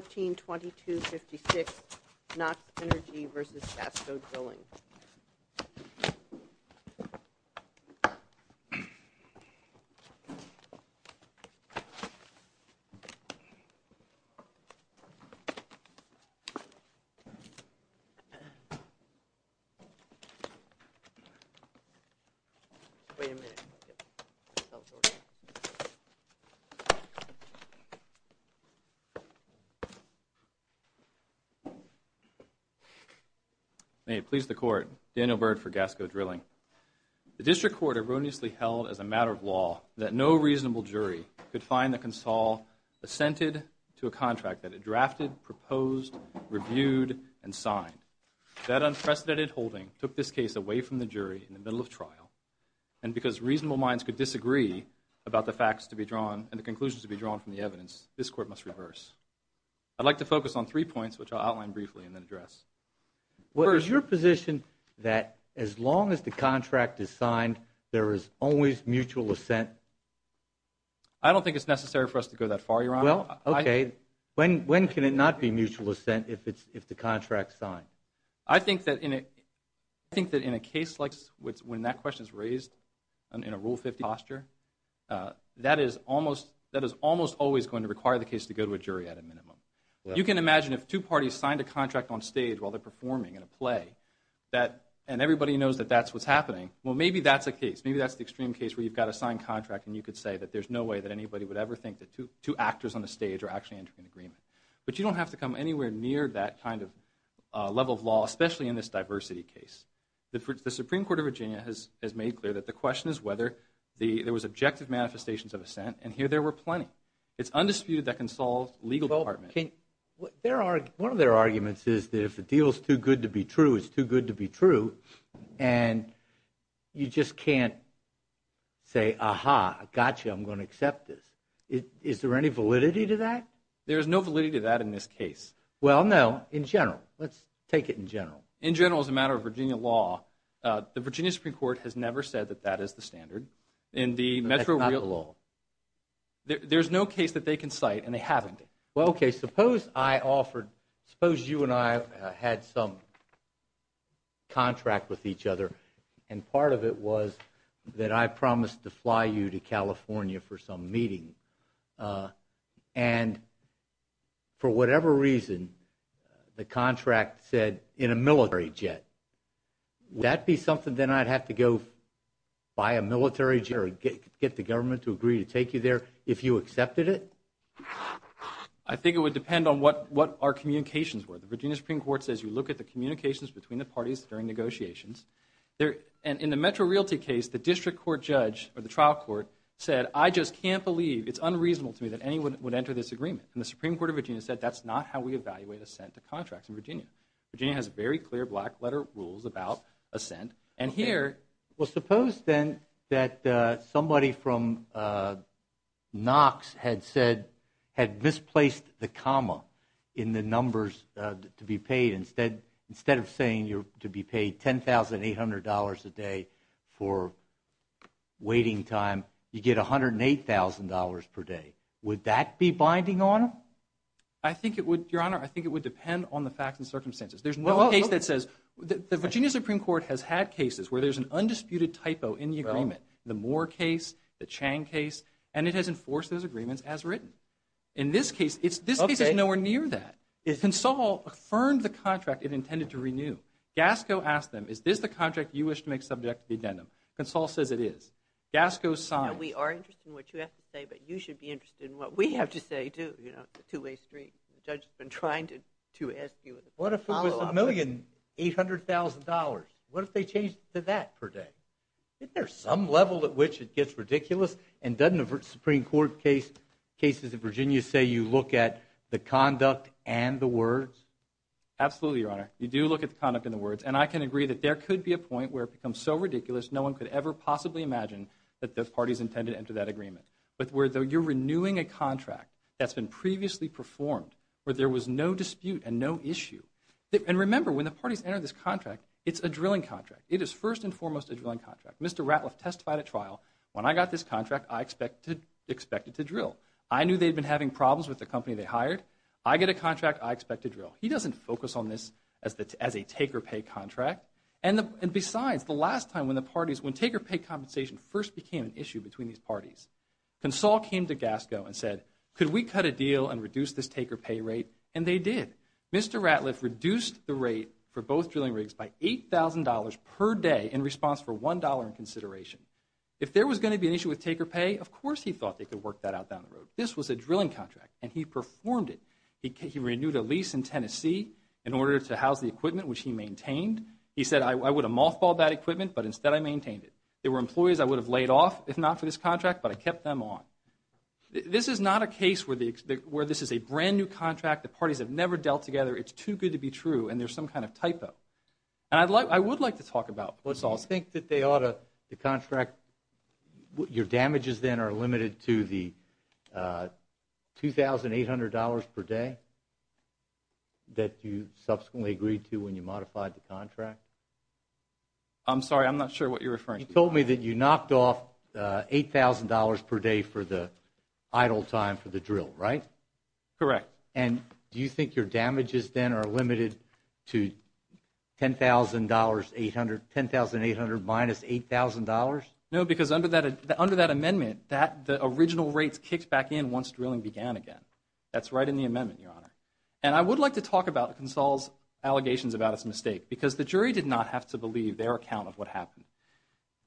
13-2256 Knox Energy v. Gasco Drilling May it please the Court, Daniel Byrd for Gasco Drilling. The District Court erroneously held as a matter of law that no reasonable jury could find the console assented to a contract that it drafted, proposed, reviewed, and signed. That unprecedented holding took this case away from the jury in the middle of trial. And because reasonable minds could disagree about the facts to be drawn and the conclusions to be drawn from the evidence, this Court must reverse. I'd like to focus on three points, which I'll outline briefly and then address. Is your position that as long as the contract is signed, there is always mutual assent? I don't think it's necessary for us to go that far, Your Honor. Well, okay. When can it not be mutual assent if the contract's signed? I think that in a case like when that question is raised in a Rule 50 posture, that is almost always going to require the case to go to a jury at a minimum. You can imagine if two parties signed a contract on stage while they're performing in a play, and everybody knows that that's what's happening, well, maybe that's a case. Maybe that's the extreme case where you've got a signed contract and you could say that there's no way that anybody would ever think that two actors on a stage are actually entering an agreement. But you don't have to come anywhere near that kind of level of law, especially in this diversity case. The Supreme Court of Virginia has made clear that the question is whether there was objective manifestations of assent, and here there were plenty. It's undisputed that can solve legal development. One of their arguments is that if the deal's too good to be true, it's too good to be true, and you just can't say, aha, gotcha, I'm going to accept this. Is there any validity to that? There's no validity to that in this case. Well, no, in general. Let's take it in general. In general, as a matter of Virginia law, the Virginia Supreme Court has never said that that is the standard. That's not the law. There's no case that they can cite, and they haven't. Well, OK, suppose I offered, suppose you and I had some contract with each other, and part of it was that I promised to fly you to California for some meeting. And for whatever reason, the contract said in a military jet. Would that be something, then, I'd have to go buy a military jet or get the government to agree to take you there if you accepted it? I think it would depend on what our communications were. The Virginia Supreme Court says you look at the communications between the parties during negotiations. In the Metro Realty case, the district court judge, or the trial court, said, I just can't believe, it's unreasonable to me that anyone would enter this agreement. And the Supreme Court of Virginia said, that's not how we evaluate assent to contracts in Virginia. Virginia has very clear black letter rules about assent. And here. Well, suppose, then, that somebody from Knox had said, had misplaced the comma in the numbers to be paid instead, instead of saying you're to be paid $10,800 a day for waiting time, you get $108,000 per day. Would that be binding on them? I think it would, Your Honor, I think it would depend on the facts and circumstances. There's no case that says, the Virginia Supreme Court has had cases where there's an undisputed typo in the agreement. The Moore case, the Chang case, and it has enforced those agreements as written. In this case, it's, this case is nowhere near that. Consol affirmed the contract it intended to renew. Gasco asked them, is this the contract you wish to make subject to the addendum? Consol says it is. Gasco signed. Now, we are interested in what you have to say, but you should be interested in what we have to say, too. You know, it's a two-way street. The judge has been trying to, to ask you a follow-up. What if it was $1,800,000? What if they changed to that per day? Isn't there some level at which it gets ridiculous? And doesn't the Supreme Court case, cases in Virginia say you look at the conduct and the words? Absolutely, Your Honor. You do look at the conduct and the words. And I can agree that there could be a point where it becomes so ridiculous, no one could ever possibly imagine that the parties intended to enter that agreement. But where you're renewing a contract that's been previously performed, where there was no dispute and no issue. And remember, when the parties enter this contract, it's a drilling contract. It is first and foremost a drilling contract. Mr. Ratliff testified at trial, when I got this contract, I expect it to drill. I knew they'd been having problems with the company they hired. I get a contract, I expect to drill. He doesn't focus on this as a take-or-pay contract. And besides, the last time when the parties, when take-or-pay compensation first became an issue between these parties, Consol came to Gasco and said, could we cut a deal and reduce this take-or-pay rate? And they did. Mr. Ratliff reduced the rate for both drilling rigs by $8,000 per day in response for one dollar in consideration. If there was going to be an issue with take-or-pay, of course he thought they could work that out down the road. This was a drilling contract. And he performed it. He renewed a lease in Tennessee in order to house the equipment, which he maintained. He said, I would have mothballed that equipment, but instead I maintained it. There were employees I would have laid off, if not for this contract, but I kept them on. This is not a case where this is a brand-new contract, the parties have never dealt together, it's too good to be true, and there's some kind of typo. I would like to talk about what's also... You think that they ought to, the contract, your damages then are limited to the $2,800 per day that you subsequently agreed to when you modified the contract? I'm sorry, I'm not sure what you're referring to. You told me that you knocked off $8,000 per day for the idle time for the drill, right? Correct. And do you think your damages then are limited to $10,800 minus $8,000? No, because under that amendment, the original rates kicked back in once drilling began again. That's right in the amendment, Your Honor. And I would like to talk about Console's allegations about its mistake, because the jury did not have to believe their account of what happened.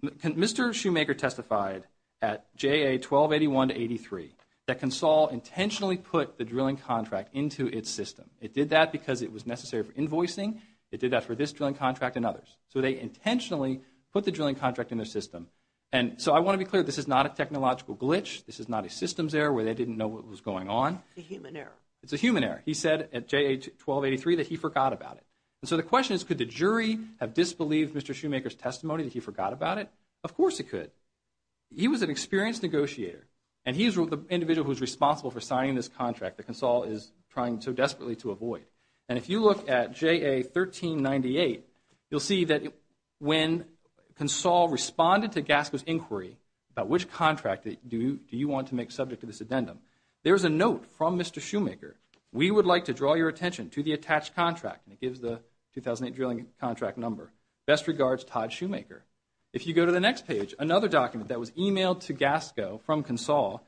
Mr. Shoemaker testified at JA-1281-83 that Console intentionally put the drilling contract into its system. It did that because it was necessary for invoicing. It did that for this drilling contract and others. So they intentionally put the drilling contract in their system. And so I want to be clear, this is not a technological glitch. This is not a systems error where they didn't know what was going on. It's a human error. It's a human error. He said at JA-1283 that he forgot about it. So the question is, could the jury have disbelieved Mr. Shoemaker's testimony that he forgot about it? Of course it could. He was an experienced negotiator, and he's the individual who's responsible for signing this contract that Console is trying so desperately to avoid. And if you look at JA-1398, you'll see that when Console responded to Gasco's inquiry about which contract do you want to make subject to this addendum, there's a note from Mr. Shoemaker. We would like to draw your attention to the attached contract, and it gives the 2008 drilling contract number. Best regards, Todd Shoemaker. If you go to the next page, another document that was emailed to Gasco from Console,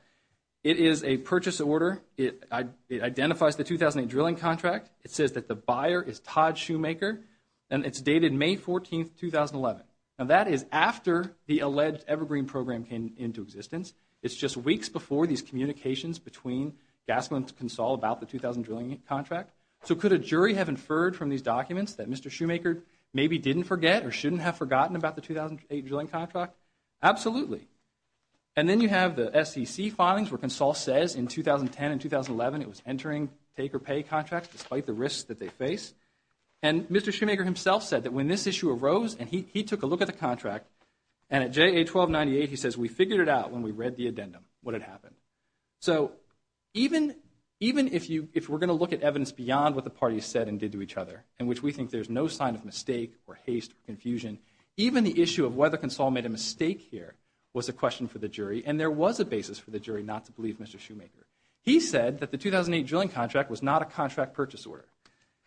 it is a purchase order. It identifies the 2008 drilling contract. It says that the buyer is Todd Shoemaker, and it's dated May 14, 2011. Now, that is after the alleged Evergreen program came into existence. It's just weeks before these communications between Gasco and Console about the 2008 drilling contract. So could a jury have inferred from these documents that Mr. Shoemaker maybe didn't forget or shouldn't have forgotten about the 2008 drilling contract? Absolutely. And then you have the SEC filings where Console says in 2010 and 2011 it was entering take or pay contracts despite the risks that they face. And Mr. Shoemaker himself said that when this issue arose, and he took a look at the contract, and at JA 1298, he says, we figured it out when we read the addendum what had happened. So even if we're going to look at evidence beyond what the parties said and did to each other, in which we think there's no sign of mistake or haste or confusion, even the issue of whether Console made a mistake here was a question for the jury, and there was a basis for the jury not to believe Mr. Shoemaker. He said that the 2008 drilling contract was not a contract purchase order.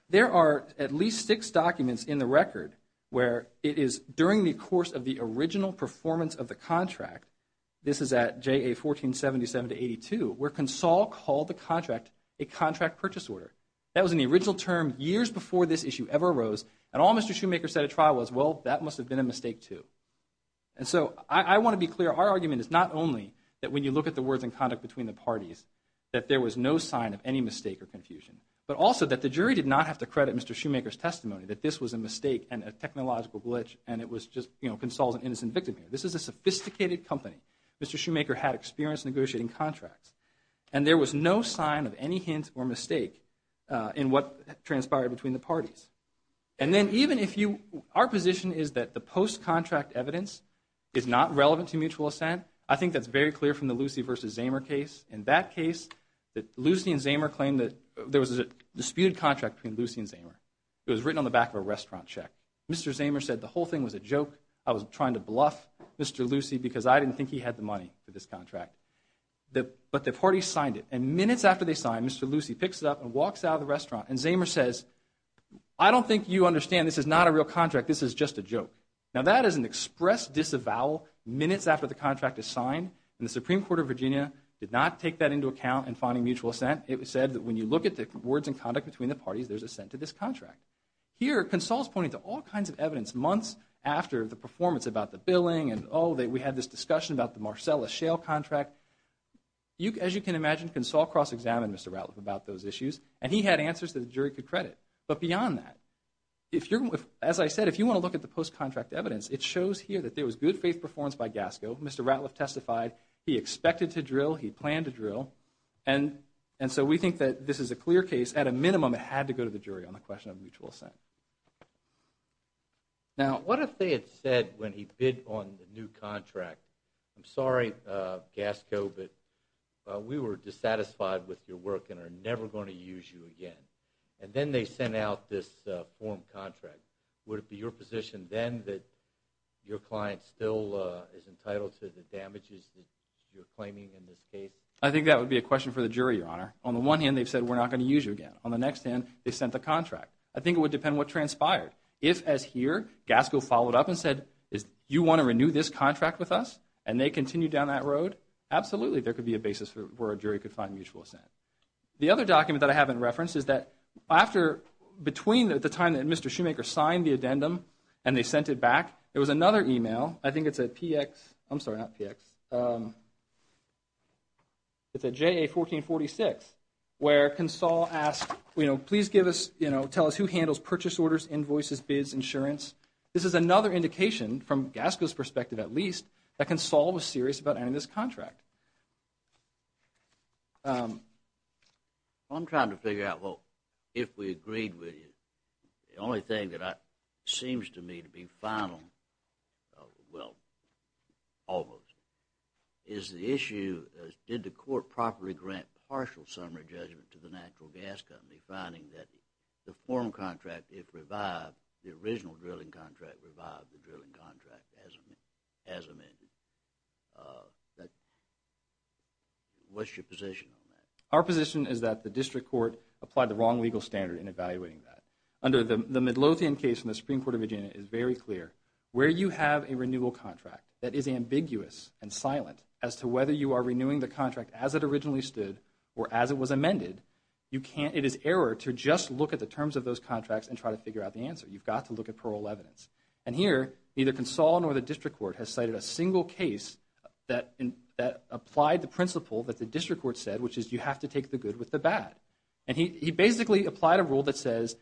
There are at least six documents in the record where it is during the course of the original performance of the contract, this is at JA 1477-82, where Console called the contract a contract purchase order. That was in the original term years before this issue ever arose, and all Mr. Shoemaker said at trial was, well, that must have been a mistake too. And so I want to be clear, our argument is not only that when you look at the words and conduct between the parties that there was no sign of any mistake or confusion, but also that the jury did not have to credit Mr. Shoemaker's testimony that this was a mistake and a technological glitch, and it was just, you know, Console's an innocent victim here. This is a sophisticated company. Mr. Shoemaker had experience negotiating contracts. And there was no sign of any hint or mistake in what transpired between the parties. And then even if you, our position is that the post-contract evidence is not relevant to mutual assent. I think that's very clear from the Lucy versus Zamer case. In that case, Lucy and Zamer claimed that there was a disputed contract between Lucy and Zamer. It was written on the back of a restaurant check. Mr. Zamer said the whole thing was a joke. I was trying to bluff Mr. Lucy because I didn't think he had the money for this contract. But the parties signed it. And minutes after they signed, Mr. Lucy picks it up and walks out of the restaurant. And Zamer says, I don't think you understand. This is not a real contract. This is just a joke. Now, that is an express disavowal minutes after the contract is signed, and the Supreme Court did not take that into account in finding mutual assent. It said that when you look at the words and conduct between the parties, there's assent to this contract. Here, Consall is pointing to all kinds of evidence months after the performance about the billing and, oh, we had this discussion about the Marcellus Shale contract. As you can imagine, Consall cross-examined Mr. Ratliff about those issues, and he had answers that the jury could credit. But beyond that, as I said, if you want to look at the post-contract evidence, it shows here that there was good faith performance by Gasco. Mr. Ratliff testified he expected to drill. He planned to drill. And so we think that this is a clear case. At a minimum, it had to go to the jury on the question of mutual assent. Now, what if they had said when he bid on the new contract, I'm sorry, Gasco, but we were dissatisfied with your work and are never going to use you again. And then they sent out this form contract. Would it be your position then that your client still is entitled to the damages that you're I think that would be a question for the jury, Your Honor. On the one hand, they've said we're not going to use you again. On the next hand, they sent the contract. I think it would depend what transpired. If, as here, Gasco followed up and said, you want to renew this contract with us, and they continue down that road, absolutely there could be a basis where a jury could find mutual assent. The other document that I haven't referenced is that after, between the time that Mr. Shoemaker signed the addendum and they sent it back, there was another email. I think it's a PX, I'm sorry, not PX, it's a JA1446, where Consall asked, you know, please give us, you know, tell us who handles purchase orders, invoices, bids, insurance. This is another indication, from Gasco's perspective at least, that Consall was serious about adding this contract. Well, I'm trying to figure out, well, if we agreed with you, the only thing that seems to me to be final, well, almost, is the issue, did the court properly grant partial summary judgment to the natural gas company, finding that the form contract, if revived, the original drilling contract revived the drilling contract as amended. What's your position on that? Our position is that the district court applied the wrong legal standard in evaluating that. Under the Midlothian case in the Supreme Court of Virginia, it is very clear, where you have a renewal contract that is ambiguous and silent as to whether you are renewing the contract as it originally stood or as it was amended, you can't, it is error to just look at the terms of those contracts and try to figure out the answer. You've got to look at plural evidence. And here, neither Consall nor the district court has cited a single case that applied the principle that the district court said, which is you have to take the good with the bad. And he basically applied a rule that says,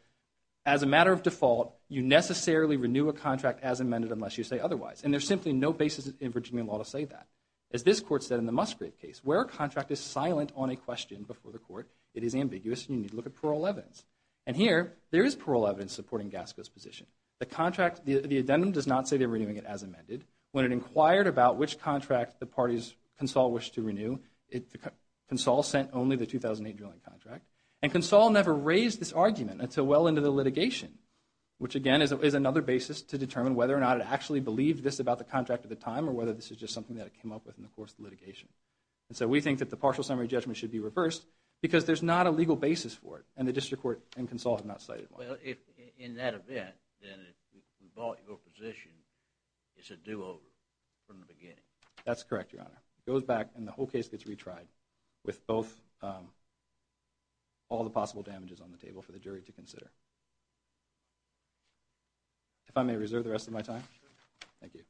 as a matter of default, you necessarily renew a contract as amended unless you say otherwise. And there's simply no basis in Virginia law to say that. As this court said in the Musgrave case, where a contract is silent on a question before the court, it is ambiguous and you need to look at plural evidence. And here, there is plural evidence supporting Gasco's position. The contract, the addendum does not say they're renewing it as amended. When it inquired about which contract the parties, Consall wished to renew, Consall sent only the 2008 drilling contract. And Consall never raised this argument until well into the litigation, which again is another basis to determine whether or not it actually believed this about the contract at the time or whether this is just something that it came up with in the course of the litigation. So we think that the partial summary judgment should be reversed because there's not a legal basis for it. And the district court and Consall have not cited one. Well, in that event, then if we bought your position, it's a do-over from the beginning. That's correct, Your Honor. It goes back and the whole case gets retried with both all the possible damages on the table for the jury to consider. If I may reserve the rest of my time, thank you.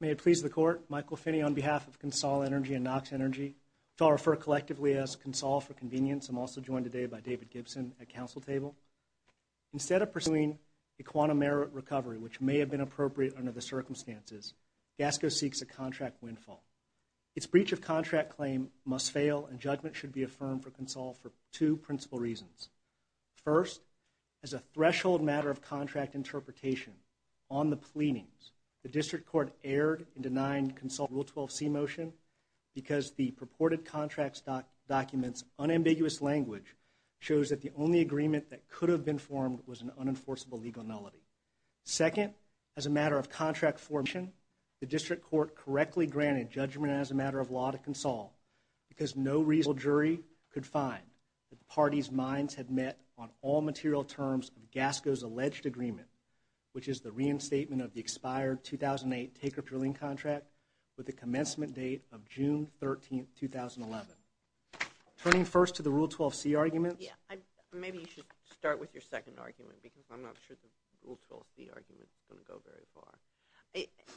May it please the court, Michael Finney on behalf of Consall Energy and Knox Energy, which I'll refer collectively as Consall for convenience, I'm also joined today by David Gibson at counsel table. Instead of pursuing a quantum merit recovery, which may have been appropriate under the circumstances, Gasco seeks a contract windfall. Its breach of contract claim must fail and judgment should be affirmed for Consall for two principal reasons. First, as a threshold matter of contract interpretation on the pleadings, the district court erred in denying Consall Rule 12C motion because the purported contracts documents unambiguous language shows that the only agreement that could have been formed was an unenforceable legal nullity. Second, as a matter of contract formation, the district court correctly granted judgment as a matter of law to Consall because no reasonable jury could find that the parties' minds had met on all material terms of Gasco's alleged agreement, which is the reinstatement of the with the commencement date of June 13th, 2011. Turning first to the Rule 12C argument. Yeah, maybe you should start with your second argument because I'm not sure the Rule 12C argument is going to go very far.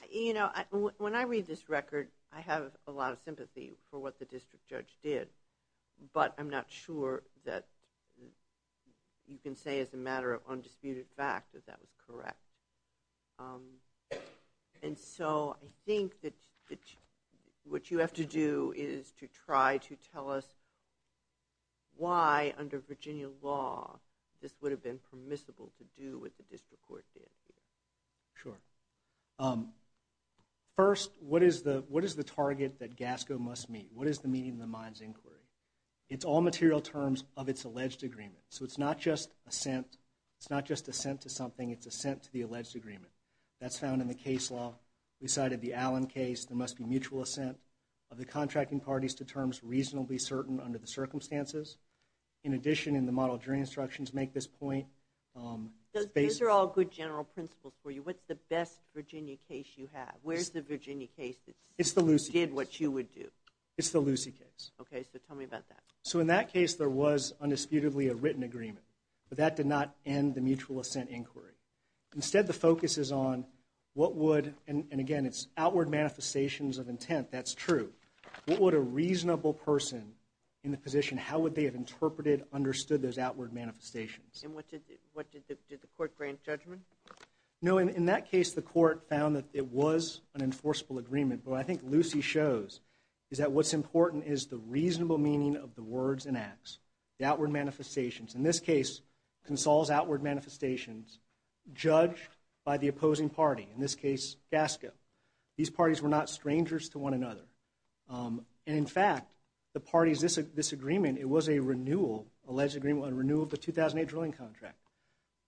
You know, when I read this record, I have a lot of sympathy for what the district judge did, but I'm not sure that you can say as a matter of undisputed fact that that was correct. And so, I think that what you have to do is to try to tell us why under Virginia law this would have been permissible to do what the district court did. Sure. First, what is the target that Gasco must meet? What is the meaning of the mind's inquiry? It's all material terms of its alleged agreement, so it's not just assent to something, it's an alleged agreement. That's found in the case law. We cited the Allen case, there must be mutual assent of the contracting parties to terms reasonably certain under the circumstances. In addition, in the model jury instructions make this point. Those are all good general principles for you. What's the best Virginia case you have? Where's the Virginia case that did what you would do? It's the Lucy case. Okay, so tell me about that. So in that case, there was undisputedly a written agreement, but that did not end the mutual assent inquiry. Instead, the focus is on what would, and again, it's outward manifestations of intent, that's true. What would a reasonable person in the position, how would they have interpreted, understood those outward manifestations? And what did the court grant judgment? No, in that case the court found that it was an enforceable agreement, but I think Lucy shows is that what's important is the reasonable meaning of the words and acts, the outward manifestations. In this case, Consol's outward manifestations judged by the opposing party, in this case Gasco. These parties were not strangers to one another. In fact, the parties, this agreement, it was a renewal, alleged renewal of the 2008 drilling contract.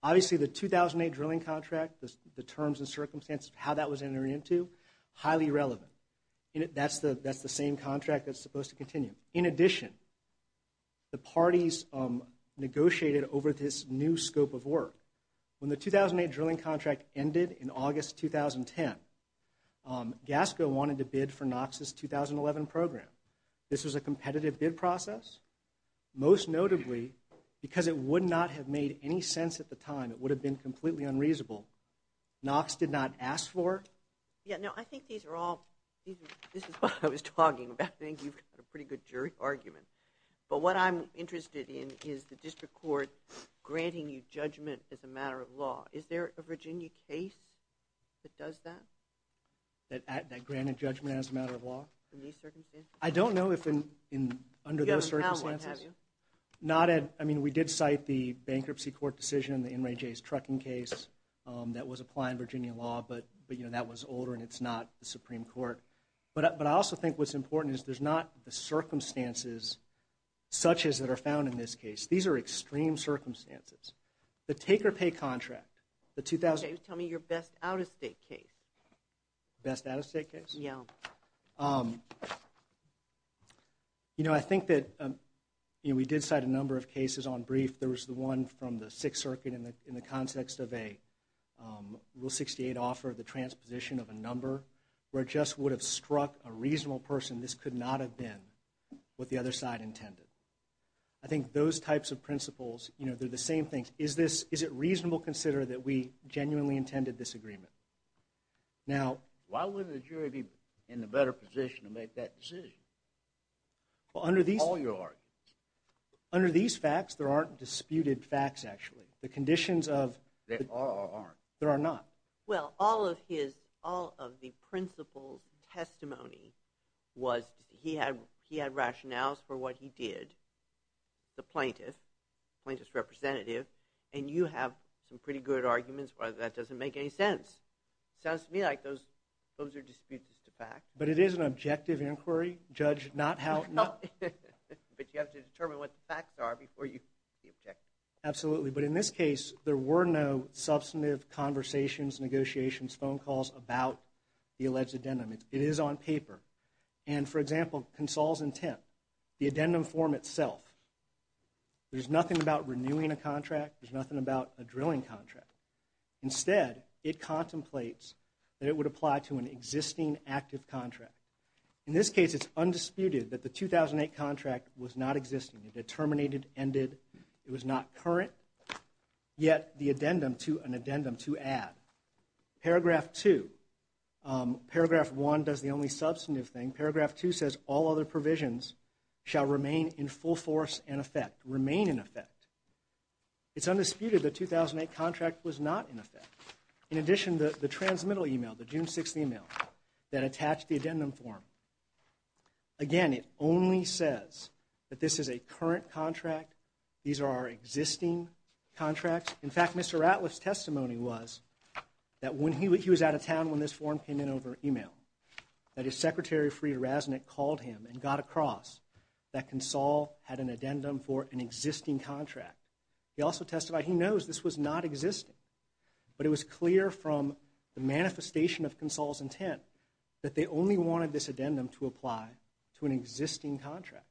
Obviously, the 2008 drilling contract, the terms and circumstances of how that was entered into, highly relevant. That's the same contract that's supposed to continue. In addition, the parties negotiated over this new scope of work. When the 2008 drilling contract ended in August 2010, Gasco wanted to bid for Knox's 2011 program. This was a competitive bid process. Most notably, because it would not have made any sense at the time, it would have been completely unreasonable, Knox did not ask for it. Yeah, no, I think these are all, this is what I was talking about, I think you've got a pretty good jury argument, but what I'm interested in is the district court granting you judgment as a matter of law. Is there a Virginia case that does that? That granted judgment as a matter of law? In these circumstances? I don't know if in, under those circumstances. You haven't found one, have you? Not at, I mean, we did cite the bankruptcy court decision, the NRAJ's trucking case, that was applied in Virginia law, but, you know, that was older and it's not the Supreme Court. But I also think what's important is there's not the circumstances such as that are found in this case. These are extreme circumstances. The take or pay contract, the 2000. Okay, tell me your best out of state case. Best out of state case? Yeah. You know, I think that, you know, we did cite a number of cases on brief. There was the one from the Sixth Circuit in the context of a Rule 68 offer of the transposition of a number, where it just would have struck a reasonable person this could not have been what the other side intended. I think those types of principles, you know, they're the same things. Is this, is it reasonable to consider that we genuinely intended this agreement? Now. Why wouldn't the jury be in a better position to make that decision? Under these. All your arguments. Under these facts, there aren't disputed facts, actually. The conditions of. There are or aren't? There are not. Well, all of his, all of the principles, testimony was he had, he had rationales for what he did. The plaintiff, plaintiff's representative, and you have some pretty good arguments, but that doesn't make any sense. Sounds to me like those, those are disputes as to facts. But it is an objective inquiry, Judge. Not how. But you have to determine what the facts are before you can be objective. Absolutely. But in this case, there were no substantive conversations, negotiations, phone calls about the alleged addendum. It is on paper. And for example, Consol's intent, the addendum form itself, there's nothing about renewing a contract. There's nothing about a drilling contract. Instead, it contemplates that it would apply to an existing active contract. In this case, it's undisputed that the 2008 contract was not existing. It terminated. Ended. It was not current. Yet the addendum to an addendum to add. Paragraph 2. Paragraph 1 does the only substantive thing. Paragraph 2 says all other provisions shall remain in full force and effect. Remain in effect. It's undisputed the 2008 contract was not in effect. In addition, the transmittal email, the June 6th email that attached the addendum form. Again, it only says that this is a current contract. These are our existing contracts. In fact, Mr. Ratliff's testimony was that when he was out of town when this form came in over email, that his secretary, Frieder Rasnick, called him and got across that Consol had an addendum for an existing contract. He also testified he knows this was not existing, but it was clear from the manifestation of this addendum to apply to an existing contract.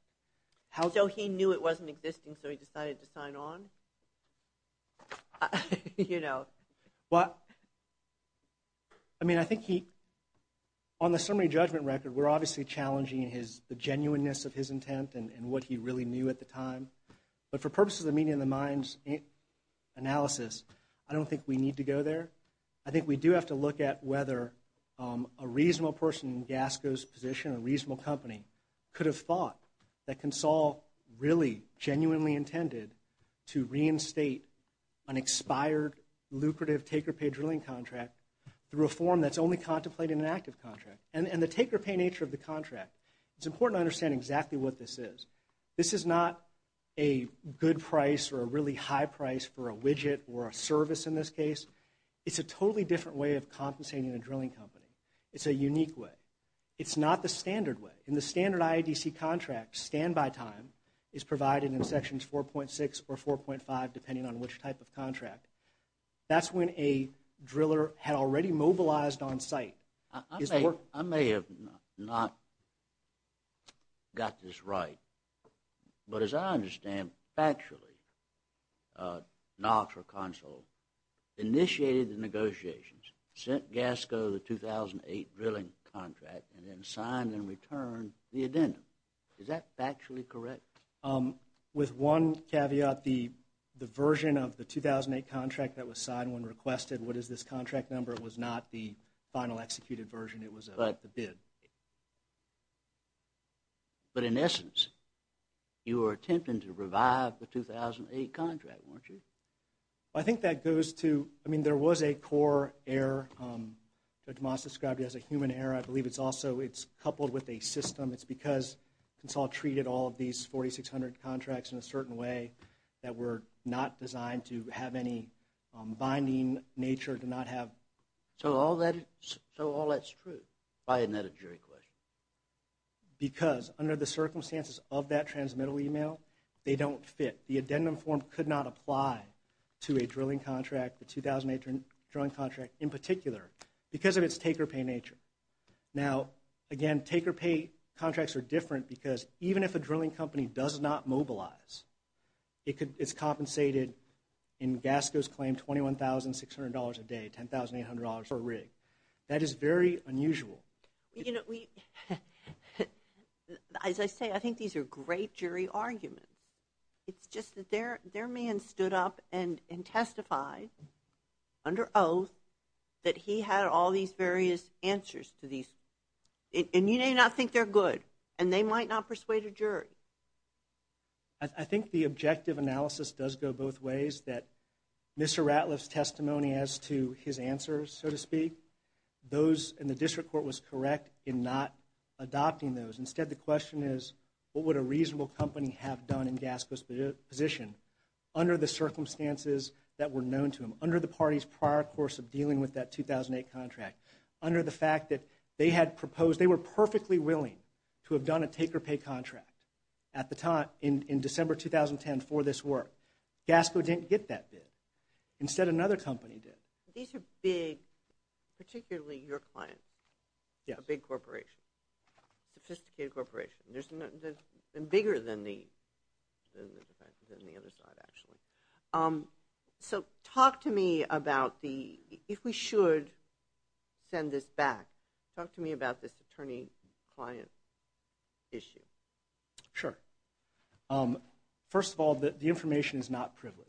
So he knew it wasn't existing, so he decided to sign on? You know. Well, I mean, I think he, on the summary judgment record, we're obviously challenging the genuineness of his intent and what he really knew at the time. But for purposes of the meeting of the minds analysis, I don't think we need to go there. I think we do have to look at whether a reasonable person in Gasco's position, a reasonable company, could have thought that Consol really, genuinely intended to reinstate an expired, lucrative, take-or-pay drilling contract through a form that's only contemplated in an active contract. And the take-or-pay nature of the contract, it's important to understand exactly what this is. This is not a good price or a really high price for a widget or a service in this case. It's a totally different way of compensating a drilling company. It's a unique way. It's not the standard way. In the standard IADC contract, standby time is provided in sections 4.6 or 4.5, depending on which type of contract. That's when a driller had already mobilized on site. I may have not got this right, but as I understand, factually, Knox or Consol initiated the negotiations, sent Gasco the 2008 drilling contract, and then signed in return the addendum. Is that factually correct? With one caveat, the version of the 2008 contract that was signed when requested, what is this executed version? It was the bid. But in essence, you were attempting to revive the 2008 contract, weren't you? I think that goes to, I mean, there was a core error, Judge Moss described it as a human error. I believe it's also, it's coupled with a system. It's because Consol treated all of these 4,600 contracts in a certain way that were not designed to have any binding nature, to not have. So all that's true, why isn't that a jury question? Because under the circumstances of that transmittal email, they don't fit. The addendum form could not apply to a drilling contract, the 2008 drilling contract in particular, because of its take-or-pay nature. Now again, take-or-pay contracts are different because even if a drilling company does not That is very unusual. You know, we, as I say, I think these are great jury arguments. It's just that their man stood up and testified under oath that he had all these various answers to these, and you may not think they're good, and they might not persuade a jury. I think the objective analysis does go both ways, that Mr. Ratliff's testimony as to his answers, so to speak, those in the district court was correct in not adopting those. Instead, the question is, what would a reasonable company have done in Gasco's position under the circumstances that were known to them, under the party's prior course of dealing with that 2008 contract, under the fact that they had proposed, they were perfectly willing to have done a take-or-pay contract at the time, in December 2010 for this work. Gasco didn't get that bid. Instead another company did. These are big, particularly your client, a big corporation, sophisticated corporation. They're bigger than the other side, actually. So talk to me about the, if we should send this back, talk to me about this attorney-client issue. Sure. First of all, the information is not privileged.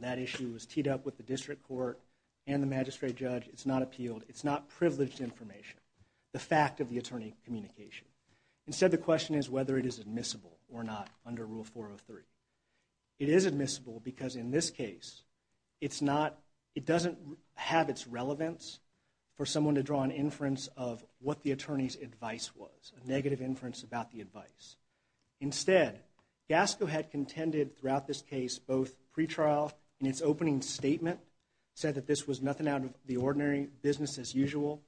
That issue was teed up with the district court and the magistrate judge. It's not appealed. It's not privileged information, the fact of the attorney communication. Instead, the question is whether it is admissible or not under Rule 403. It is admissible because in this case, it's not, it doesn't have its relevance for someone to draw an inference of what the attorney's advice was, a negative inference about the advice. Instead, Gasco had contended throughout this case, both pre-trial in its opening statement, said that this was nothing out of the ordinary business as usual.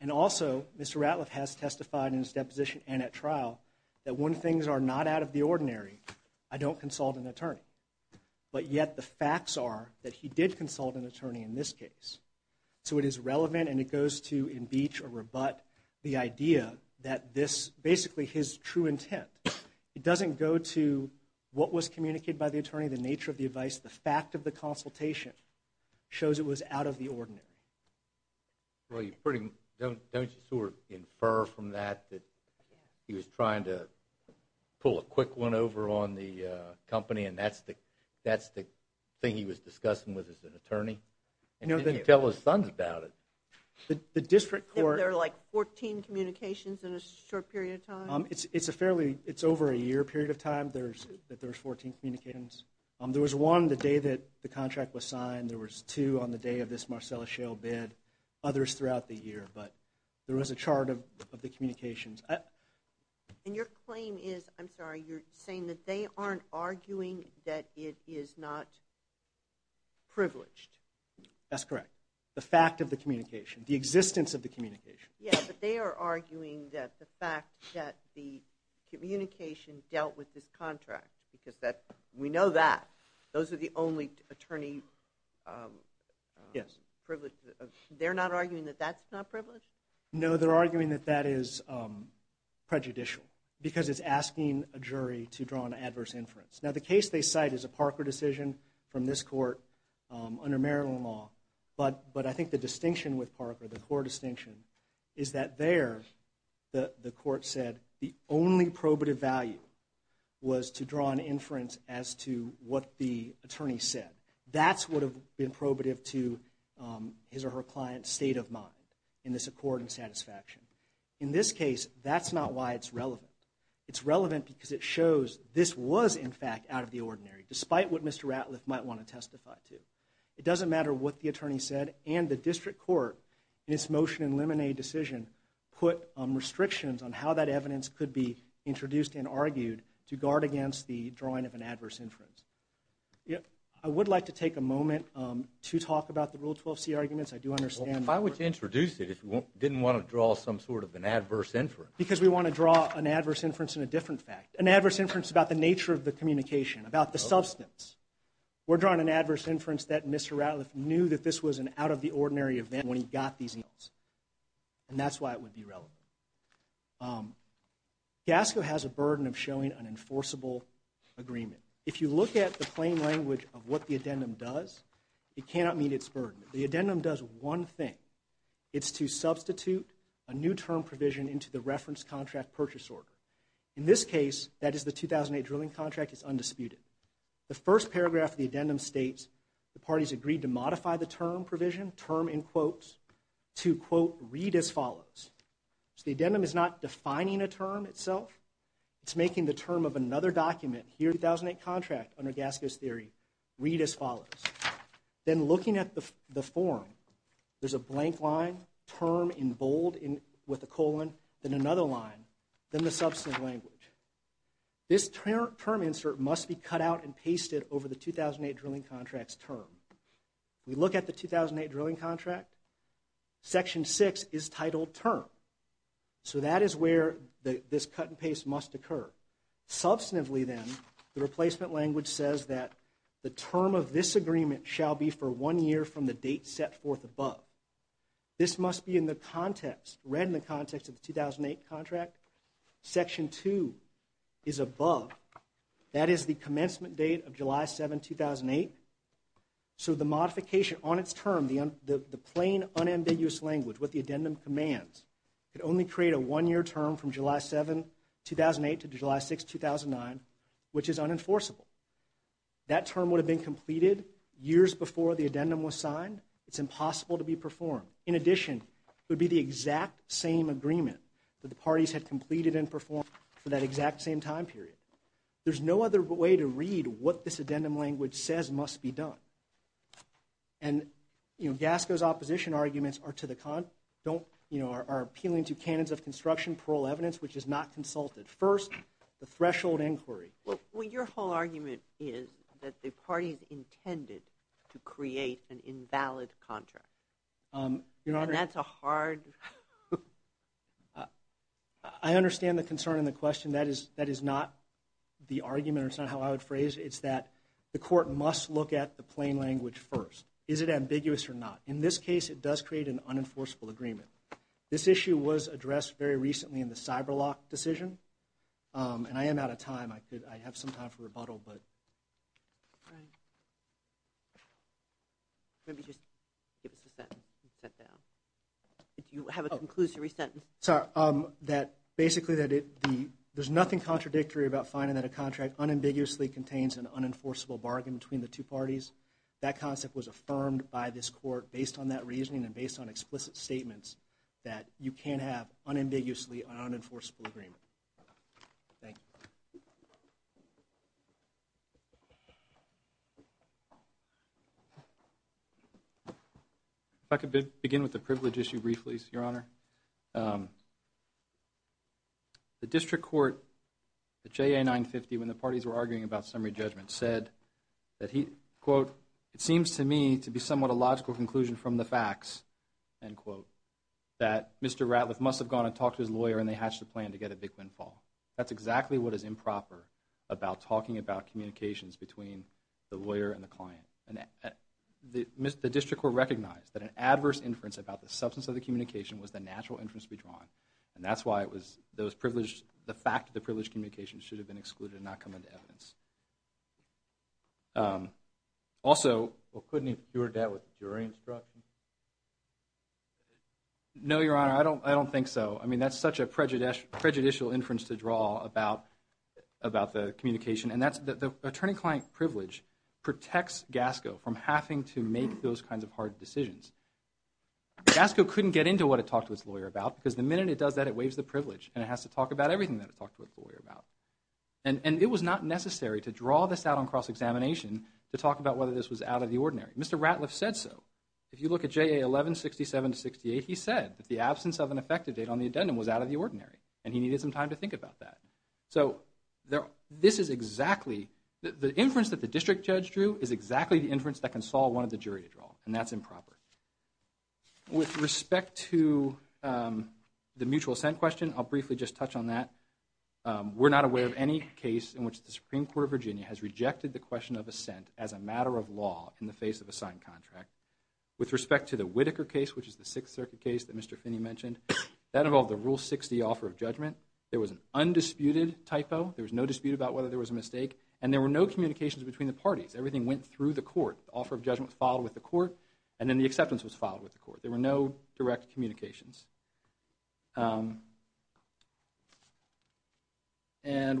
And also, Mr. Ratliff has testified in his deposition and at trial that when things are not out of the ordinary, I don't consult an attorney. But yet the facts are that he did consult an attorney in this case. So it is relevant and it goes to impeach or rebut the idea that this, basically his true intent, it doesn't go to what was communicated by the attorney, the nature of the advice, the fact of the consultation shows it was out of the ordinary. Well, you pretty, don't you sort of infer from that that he was trying to pull a quick one over on the company and that's the, that's the thing he was discussing with his attorney? And he didn't tell his sons about it. The district court. There were like 14 communications in a short period of time? It's a fairly, it's over a year period of time, there's, that there's 14 communications. There was one the day that the contract was signed, there was two on the day of this Marcella Shale bid, others throughout the year, but there was a chart of the communications. And your claim is, I'm sorry, you're saying that they aren't arguing that it is not privileged? That's correct. The fact of the communication, the existence of the communication. Yeah, but they are arguing that the fact that the communication dealt with this contract, because that, we know that, those are the only attorney, they're not arguing that that's not privileged? No, they're arguing that that is prejudicial, because it's asking a jury to draw an adverse inference. Now, the case they cite is a Parker decision from this court under Maryland law, but I think the distinction with Parker, the core distinction, is that there the court said the only probative value was to draw an inference as to what the attorney said. That's what would have been probative to his or her client's state of mind in this accord and satisfaction. In this case, that's not why it's relevant. It's relevant because it shows this was, in fact, out of the ordinary, despite what Mr. Ratliff might want to testify to. It doesn't matter what the attorney said, and the district court, in its motion and lemonade decision, put restrictions on how that evidence could be introduced and argued to guard against the drawing of an adverse inference. I would like to take a moment to talk about the Rule 12c arguments. I do understand. Well, if I were to introduce it, if you didn't want to draw some sort of an adverse inference. Because we want to draw an adverse inference in a different fact. An adverse inference about the nature of the communication, about the substance. We're drawing an adverse inference that Mr. Ratliff knew that this was an out-of-the-ordinary event when he got these emails, and that's why it would be relevant. CASCO has a burden of showing an enforceable agreement. If you look at the plain language of what the addendum does, it cannot meet its burden. The addendum does one thing. It's to substitute a new term provision into the reference contract purchase order. In this case, that is the 2008 drilling contract, it's undisputed. The first paragraph of the addendum states, the parties agreed to modify the term provision, term in quotes, to quote, read as follows. The addendum is not defining a term itself. It's making the term of another document, here 2008 contract, under CASCO's theory, read as follows. Then looking at the form, there's a blank line, term in bold with a colon, then another line, then the substantive language. This term insert must be cut out and pasted over the 2008 drilling contract's term. We look at the 2008 drilling contract, section six is titled term. So that is where this cut and paste must occur. Substantively then, the replacement language says that the term of this agreement shall be for one year from the date set forth above. This must be in the context, read in the context of the 2008 contract. Section two is above. That is the commencement date of July 7, 2008. So the modification on its term, the plain unambiguous language, what the addendum commands, could only create a one year term from July 7, 2008 to July 6, 2009, which is unenforceable. That term would have been completed years before the addendum was signed. It's impossible to be performed. In addition, it would be the exact same agreement that the parties had completed and performed for that exact same time period. There's no other way to read what this addendum language says must be done. And, you know, Gasco's opposition arguments are to the contrary, don't, you know, are appealing to canons of construction, parole evidence, which is not consulted. First, the threshold inquiry. Well, your whole argument is that the parties intended to create an invalid contract. Your Honor. And that's a hard... I understand the concern and the question. That is not the argument, or it's not how I would phrase it. It's that the court must look at the plain language first. Is it ambiguous or not? In this case, it does create an unenforceable agreement. This issue was addressed very recently in the Cyberlock decision. And I am out of time. I could, I have some time for rebuttal, but... All right. Maybe just give us a sentence and sit down. You have a conclusory sentence. Sorry. That basically that it, there's nothing contradictory about finding that a contract unambiguously contains an unenforceable bargain between the two parties. That concept was affirmed by this court based on that reasoning and based on explicit statements that you can't have unambiguously an unenforceable agreement. Thank you. If I could begin with the privilege issue briefly, Your Honor. The district court, the JA 950, when the parties were arguing about summary judgment, said that he, quote, it seems to me to be somewhat a logical conclusion from the facts, end quote, that Mr. Ratliff must have gone and talked to his lawyer and they hatched a plan to get a big windfall. That's exactly what is improper about talking about communications between the lawyer and the client. And the district court recognized that an adverse inference about the substance of the communication was the natural inference to be drawn. And that's why it was, those privileged, the fact that the privileged communication should have been excluded and not come into evidence. Also. Well, couldn't he have cured that with jury instruction? No, Your Honor. I don't think so. I mean, that's such a prejudicial inference to draw about the communication. And that's, the attorney-client privilege protects Gasco from having to make those kinds of hard decisions. Gasco couldn't get into what it talked to its lawyer about because the minute it does that, it waives the privilege and it has to talk about everything that it talked to its lawyer about. And it was not necessary to draw this out on cross-examination to talk about whether this was out of the ordinary. Mr. Ratliff said so. If you look at JA 1167-68, he said that the absence of an effective date on the addendum was out of the ordinary and he needed some time to think about that. And that's improper. With respect to the mutual assent question, I'll briefly just touch on that. We're not aware of any case in which the Supreme Court of Virginia has rejected the question of assent as a matter of law in the face of a signed contract. With respect to the Whitaker case, which is the Sixth Circuit case that Mr. Finney mentioned, that involved the Rule 60 offer of judgment. There was an undisputed typo. There was no dispute about whether there was a mistake. And there were no communications between the parties. Everything went through the court. The offer of judgment was filed with the court. And then the acceptance was filed with the court. There were no direct communications. And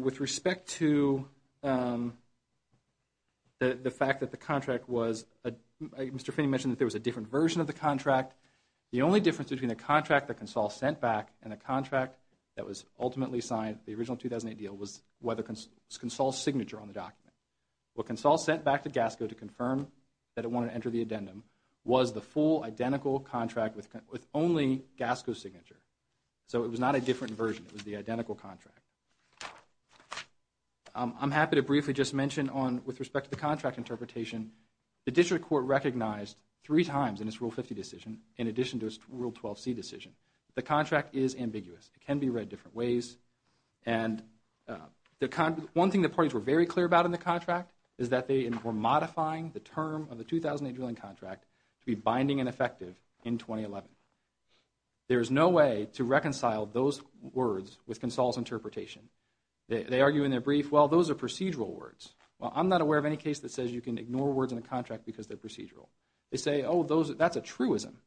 with respect to the fact that the contract was – Mr. Finney mentioned that there was a different version of the contract. The only difference between the contract that Consol sent back and the contract that was ultimately signed, the original 2008 deal, was Consol's signature on the document. What Consol sent back to GASCO to confirm that it wanted to enter the addendum was the full, identical contract with only GASCO's signature. So it was not a different version. It was the identical contract. I'm happy to briefly just mention on – with respect to the contract interpretation, the district court recognized three times in its Rule 50 decision, in addition to its Rule 12c decision, the contract is ambiguous. It can be read different ways. And the – one thing the parties were very clear about in the contract is that they were modifying the term of the 2008 drilling contract to be binding and effective in 2011. There is no way to reconcile those words with Consol's interpretation. They argue in their brief, well, those are procedural words. Well, I'm not aware of any case that says you can ignore words in a contract because they're procedural. They say, oh, those – that's a truism.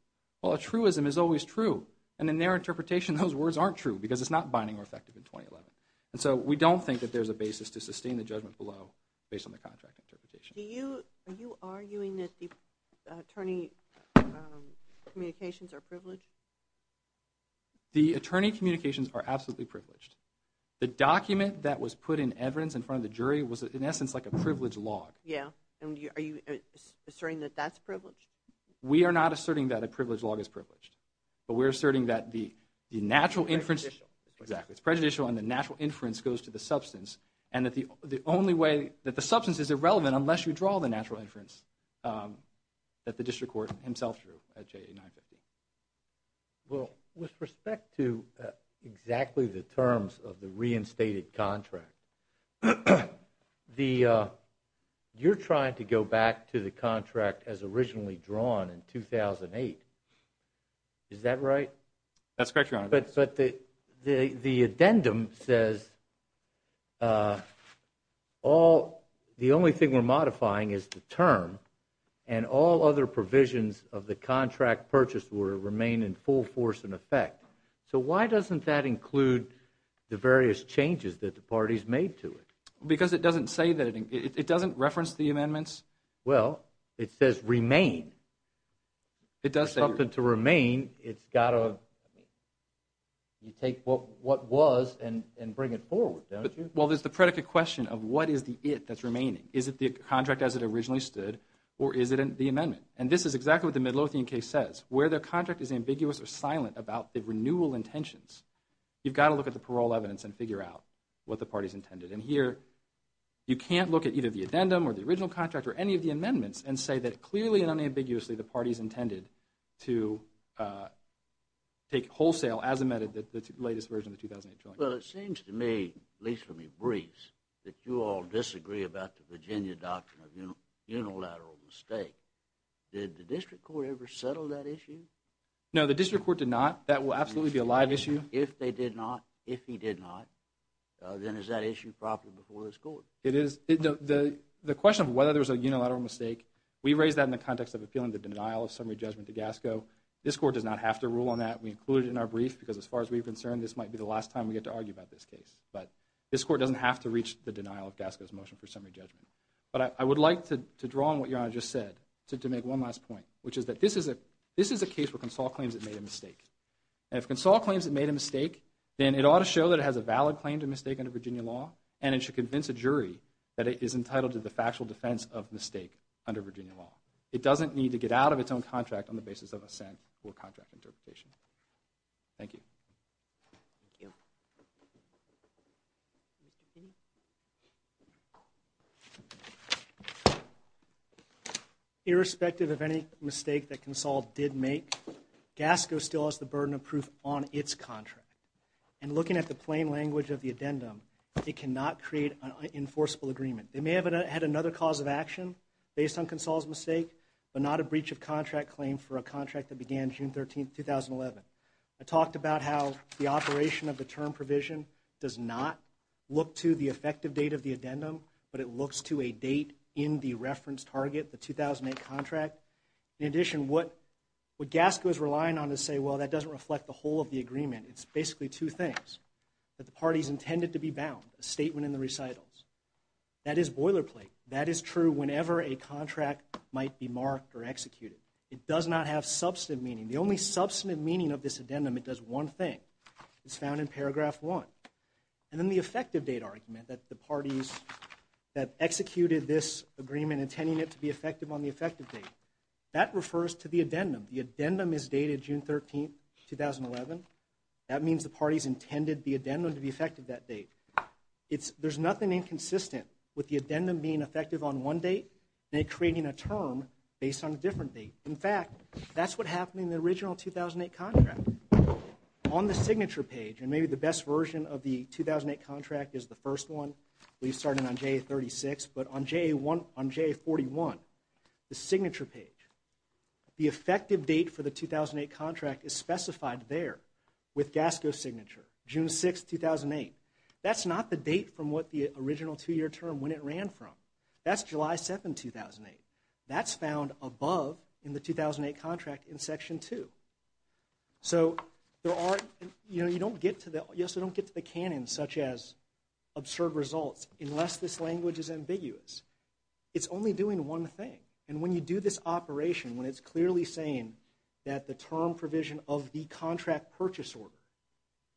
Well, a truism is always true. And in their interpretation, those words aren't true because it's not binding or effective in 2011. And so we don't think that there's a basis to sustain the judgment below based on the contract interpretation. Do you – are you arguing that the attorney communications are privileged? The attorney communications are absolutely privileged. The document that was put in evidence in front of the jury was, in essence, like a privileged log. Yeah. And are you asserting that that's privileged? We are not asserting that a privileged log is privileged. But we're asserting that the natural inference – It's prejudicial. Exactly. It's prejudicial and the natural inference goes to the substance and that the only way – that the substance is irrelevant unless you draw the natural inference that the district court himself drew at JA-950. Well, with respect to exactly the terms of the reinstated contract, the – you're trying to go back to the contract as originally drawn in 2008. Is that right? That's correct, Your Honor. But the addendum says all – the only thing we're modifying is the term and all other provisions of the contract purchase order remain in full force and effect. So why doesn't that include the various changes that the parties made to it? Because it doesn't say that – it doesn't reference the amendments. Well, it says remain. It does say – For something to remain, it's got to – You take what was and bring it forward, don't you? Well, there's the predicate question of what is the it that's remaining. Is it the contract as it originally stood or is it the amendment? And this is exactly what the Midlothian case says. Where the contract is ambiguous or silent about the renewal intentions, you've got to look at the parole evidence and figure out what the parties intended. And here you can't look at either the addendum or the original contract or any of the amendments and say that clearly and unambiguously the parties intended to take wholesale as amended the latest version of the 2008 joint. Well, it seems to me, at least from your briefs, that you all disagree about the Virginia doctrine of unilateral mistake. Did the district court ever settle that issue? No, the district court did not. That will absolutely be a live issue. If they did not, if he did not, then is that issue properly before this court? It is. The question of whether there was a unilateral mistake, we raised that in the context of appealing the denial of summary judgment to Gasco. This court does not have to rule on that. We included it in our brief because as far as we're concerned, this might be the last time we get to argue about this case. But this court doesn't have to reach the denial of Gasco's motion for summary judgment. But I would like to draw on what Your Honor just said to make one last point, which is that this is a case where Consol claims it made a mistake. And if Consol claims it made a mistake, then it ought to show that it has a valid claim to mistake under Virginia law and it should convince a jury that it is entitled to the factual defense of mistake under Virginia law. It doesn't need to get out of its own contract on the basis of assent or contract interpretation. Thank you. Thank you. Mr. P? Irrespective of any mistake that Consol did make, Gasco still has the burden of proof on its contract. And looking at the plain language of the addendum, it cannot create an enforceable agreement. They may have had another cause of action based on Consol's mistake, but not a breach of contract claim for a contract that began June 13, 2011. I talked about how the operation of the term provision does not look to the effective date of the addendum, but it looks to a date in the reference target, the 2008 contract. In addition, what Gasco is relying on to say, well, that doesn't reflect the whole of the agreement. It's basically two things. That the parties intended to be bound, a statement in the recitals. That is boilerplate. That is true whenever a contract might be marked or executed. It does not have substantive meaning. The only substantive meaning of this addendum, it does one thing. It's found in paragraph one. And then the effective date argument that the parties that executed this agreement intending it to be effective on the effective date. That refers to the addendum. The addendum is dated June 13, 2011. That means the parties intended the addendum to be effective that date. There's nothing inconsistent with the addendum being effective on one date and it creating a term based on a different date. In fact, that's what happened in the original 2008 contract. On the signature page, and maybe the best version of the 2008 contract is the first one. We started on JA36, but on JA41, the signature page, the effective date for the 2008 contract is specified there with Gasco's signature. June 6, 2008. That's not the date from what the original two-year term when it ran from. That's July 7, 2008. That's found above in the 2008 contract in section two. So you don't get to the canon such as absurd results unless this language is ambiguous. It's only doing one thing, and when you do this operation, when it's clearly saying that the term provision of the contract purchase order,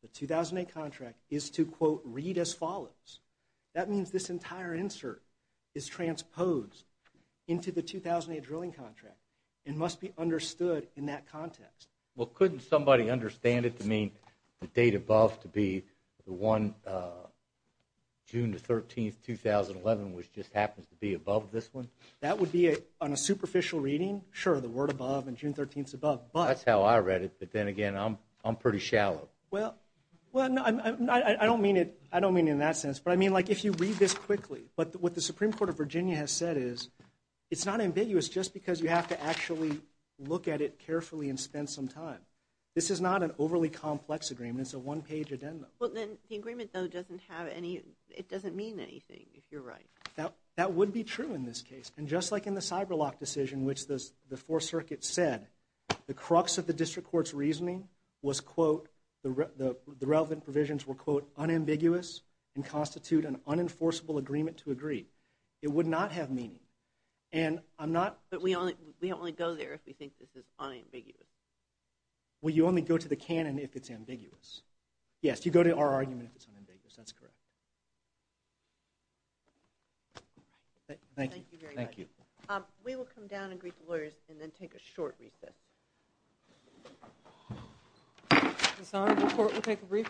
the 2008 contract, is to, quote, read as follows. That means this entire insert is transposed into the 2008 drilling contract and must be understood in that context. Well, couldn't somebody understand it to mean the date above to be the one June 13, 2011, which just happens to be above this one? That would be on a superficial reading. Sure, the word above and June 13 is above. That's how I read it, but then again, I'm pretty shallow. Well, I don't mean it in that sense, but I mean, like, if you read this quickly, what the Supreme Court of Virginia has said is it's not ambiguous just because you have to actually look at it carefully and spend some time. This is not an overly complex agreement. It's a one-page addendum. Well, then the agreement, though, doesn't mean anything, if you're right. That would be true in this case, and just like in the Cyberlock decision, in which the Fourth Circuit said the crux of the district court's reasoning was, quote, the relevant provisions were, quote, unambiguous and constitute an unenforceable agreement to agree. It would not have meaning. But we only go there if we think this is unambiguous. Well, you only go to the canon if it's ambiguous. Yes, you go to our argument if it's unambiguous. That's correct. Thank you. Thank you very much. Thank you. We will come down and greet the lawyers and then take a short recess. Sorry, the court will take a brief recess.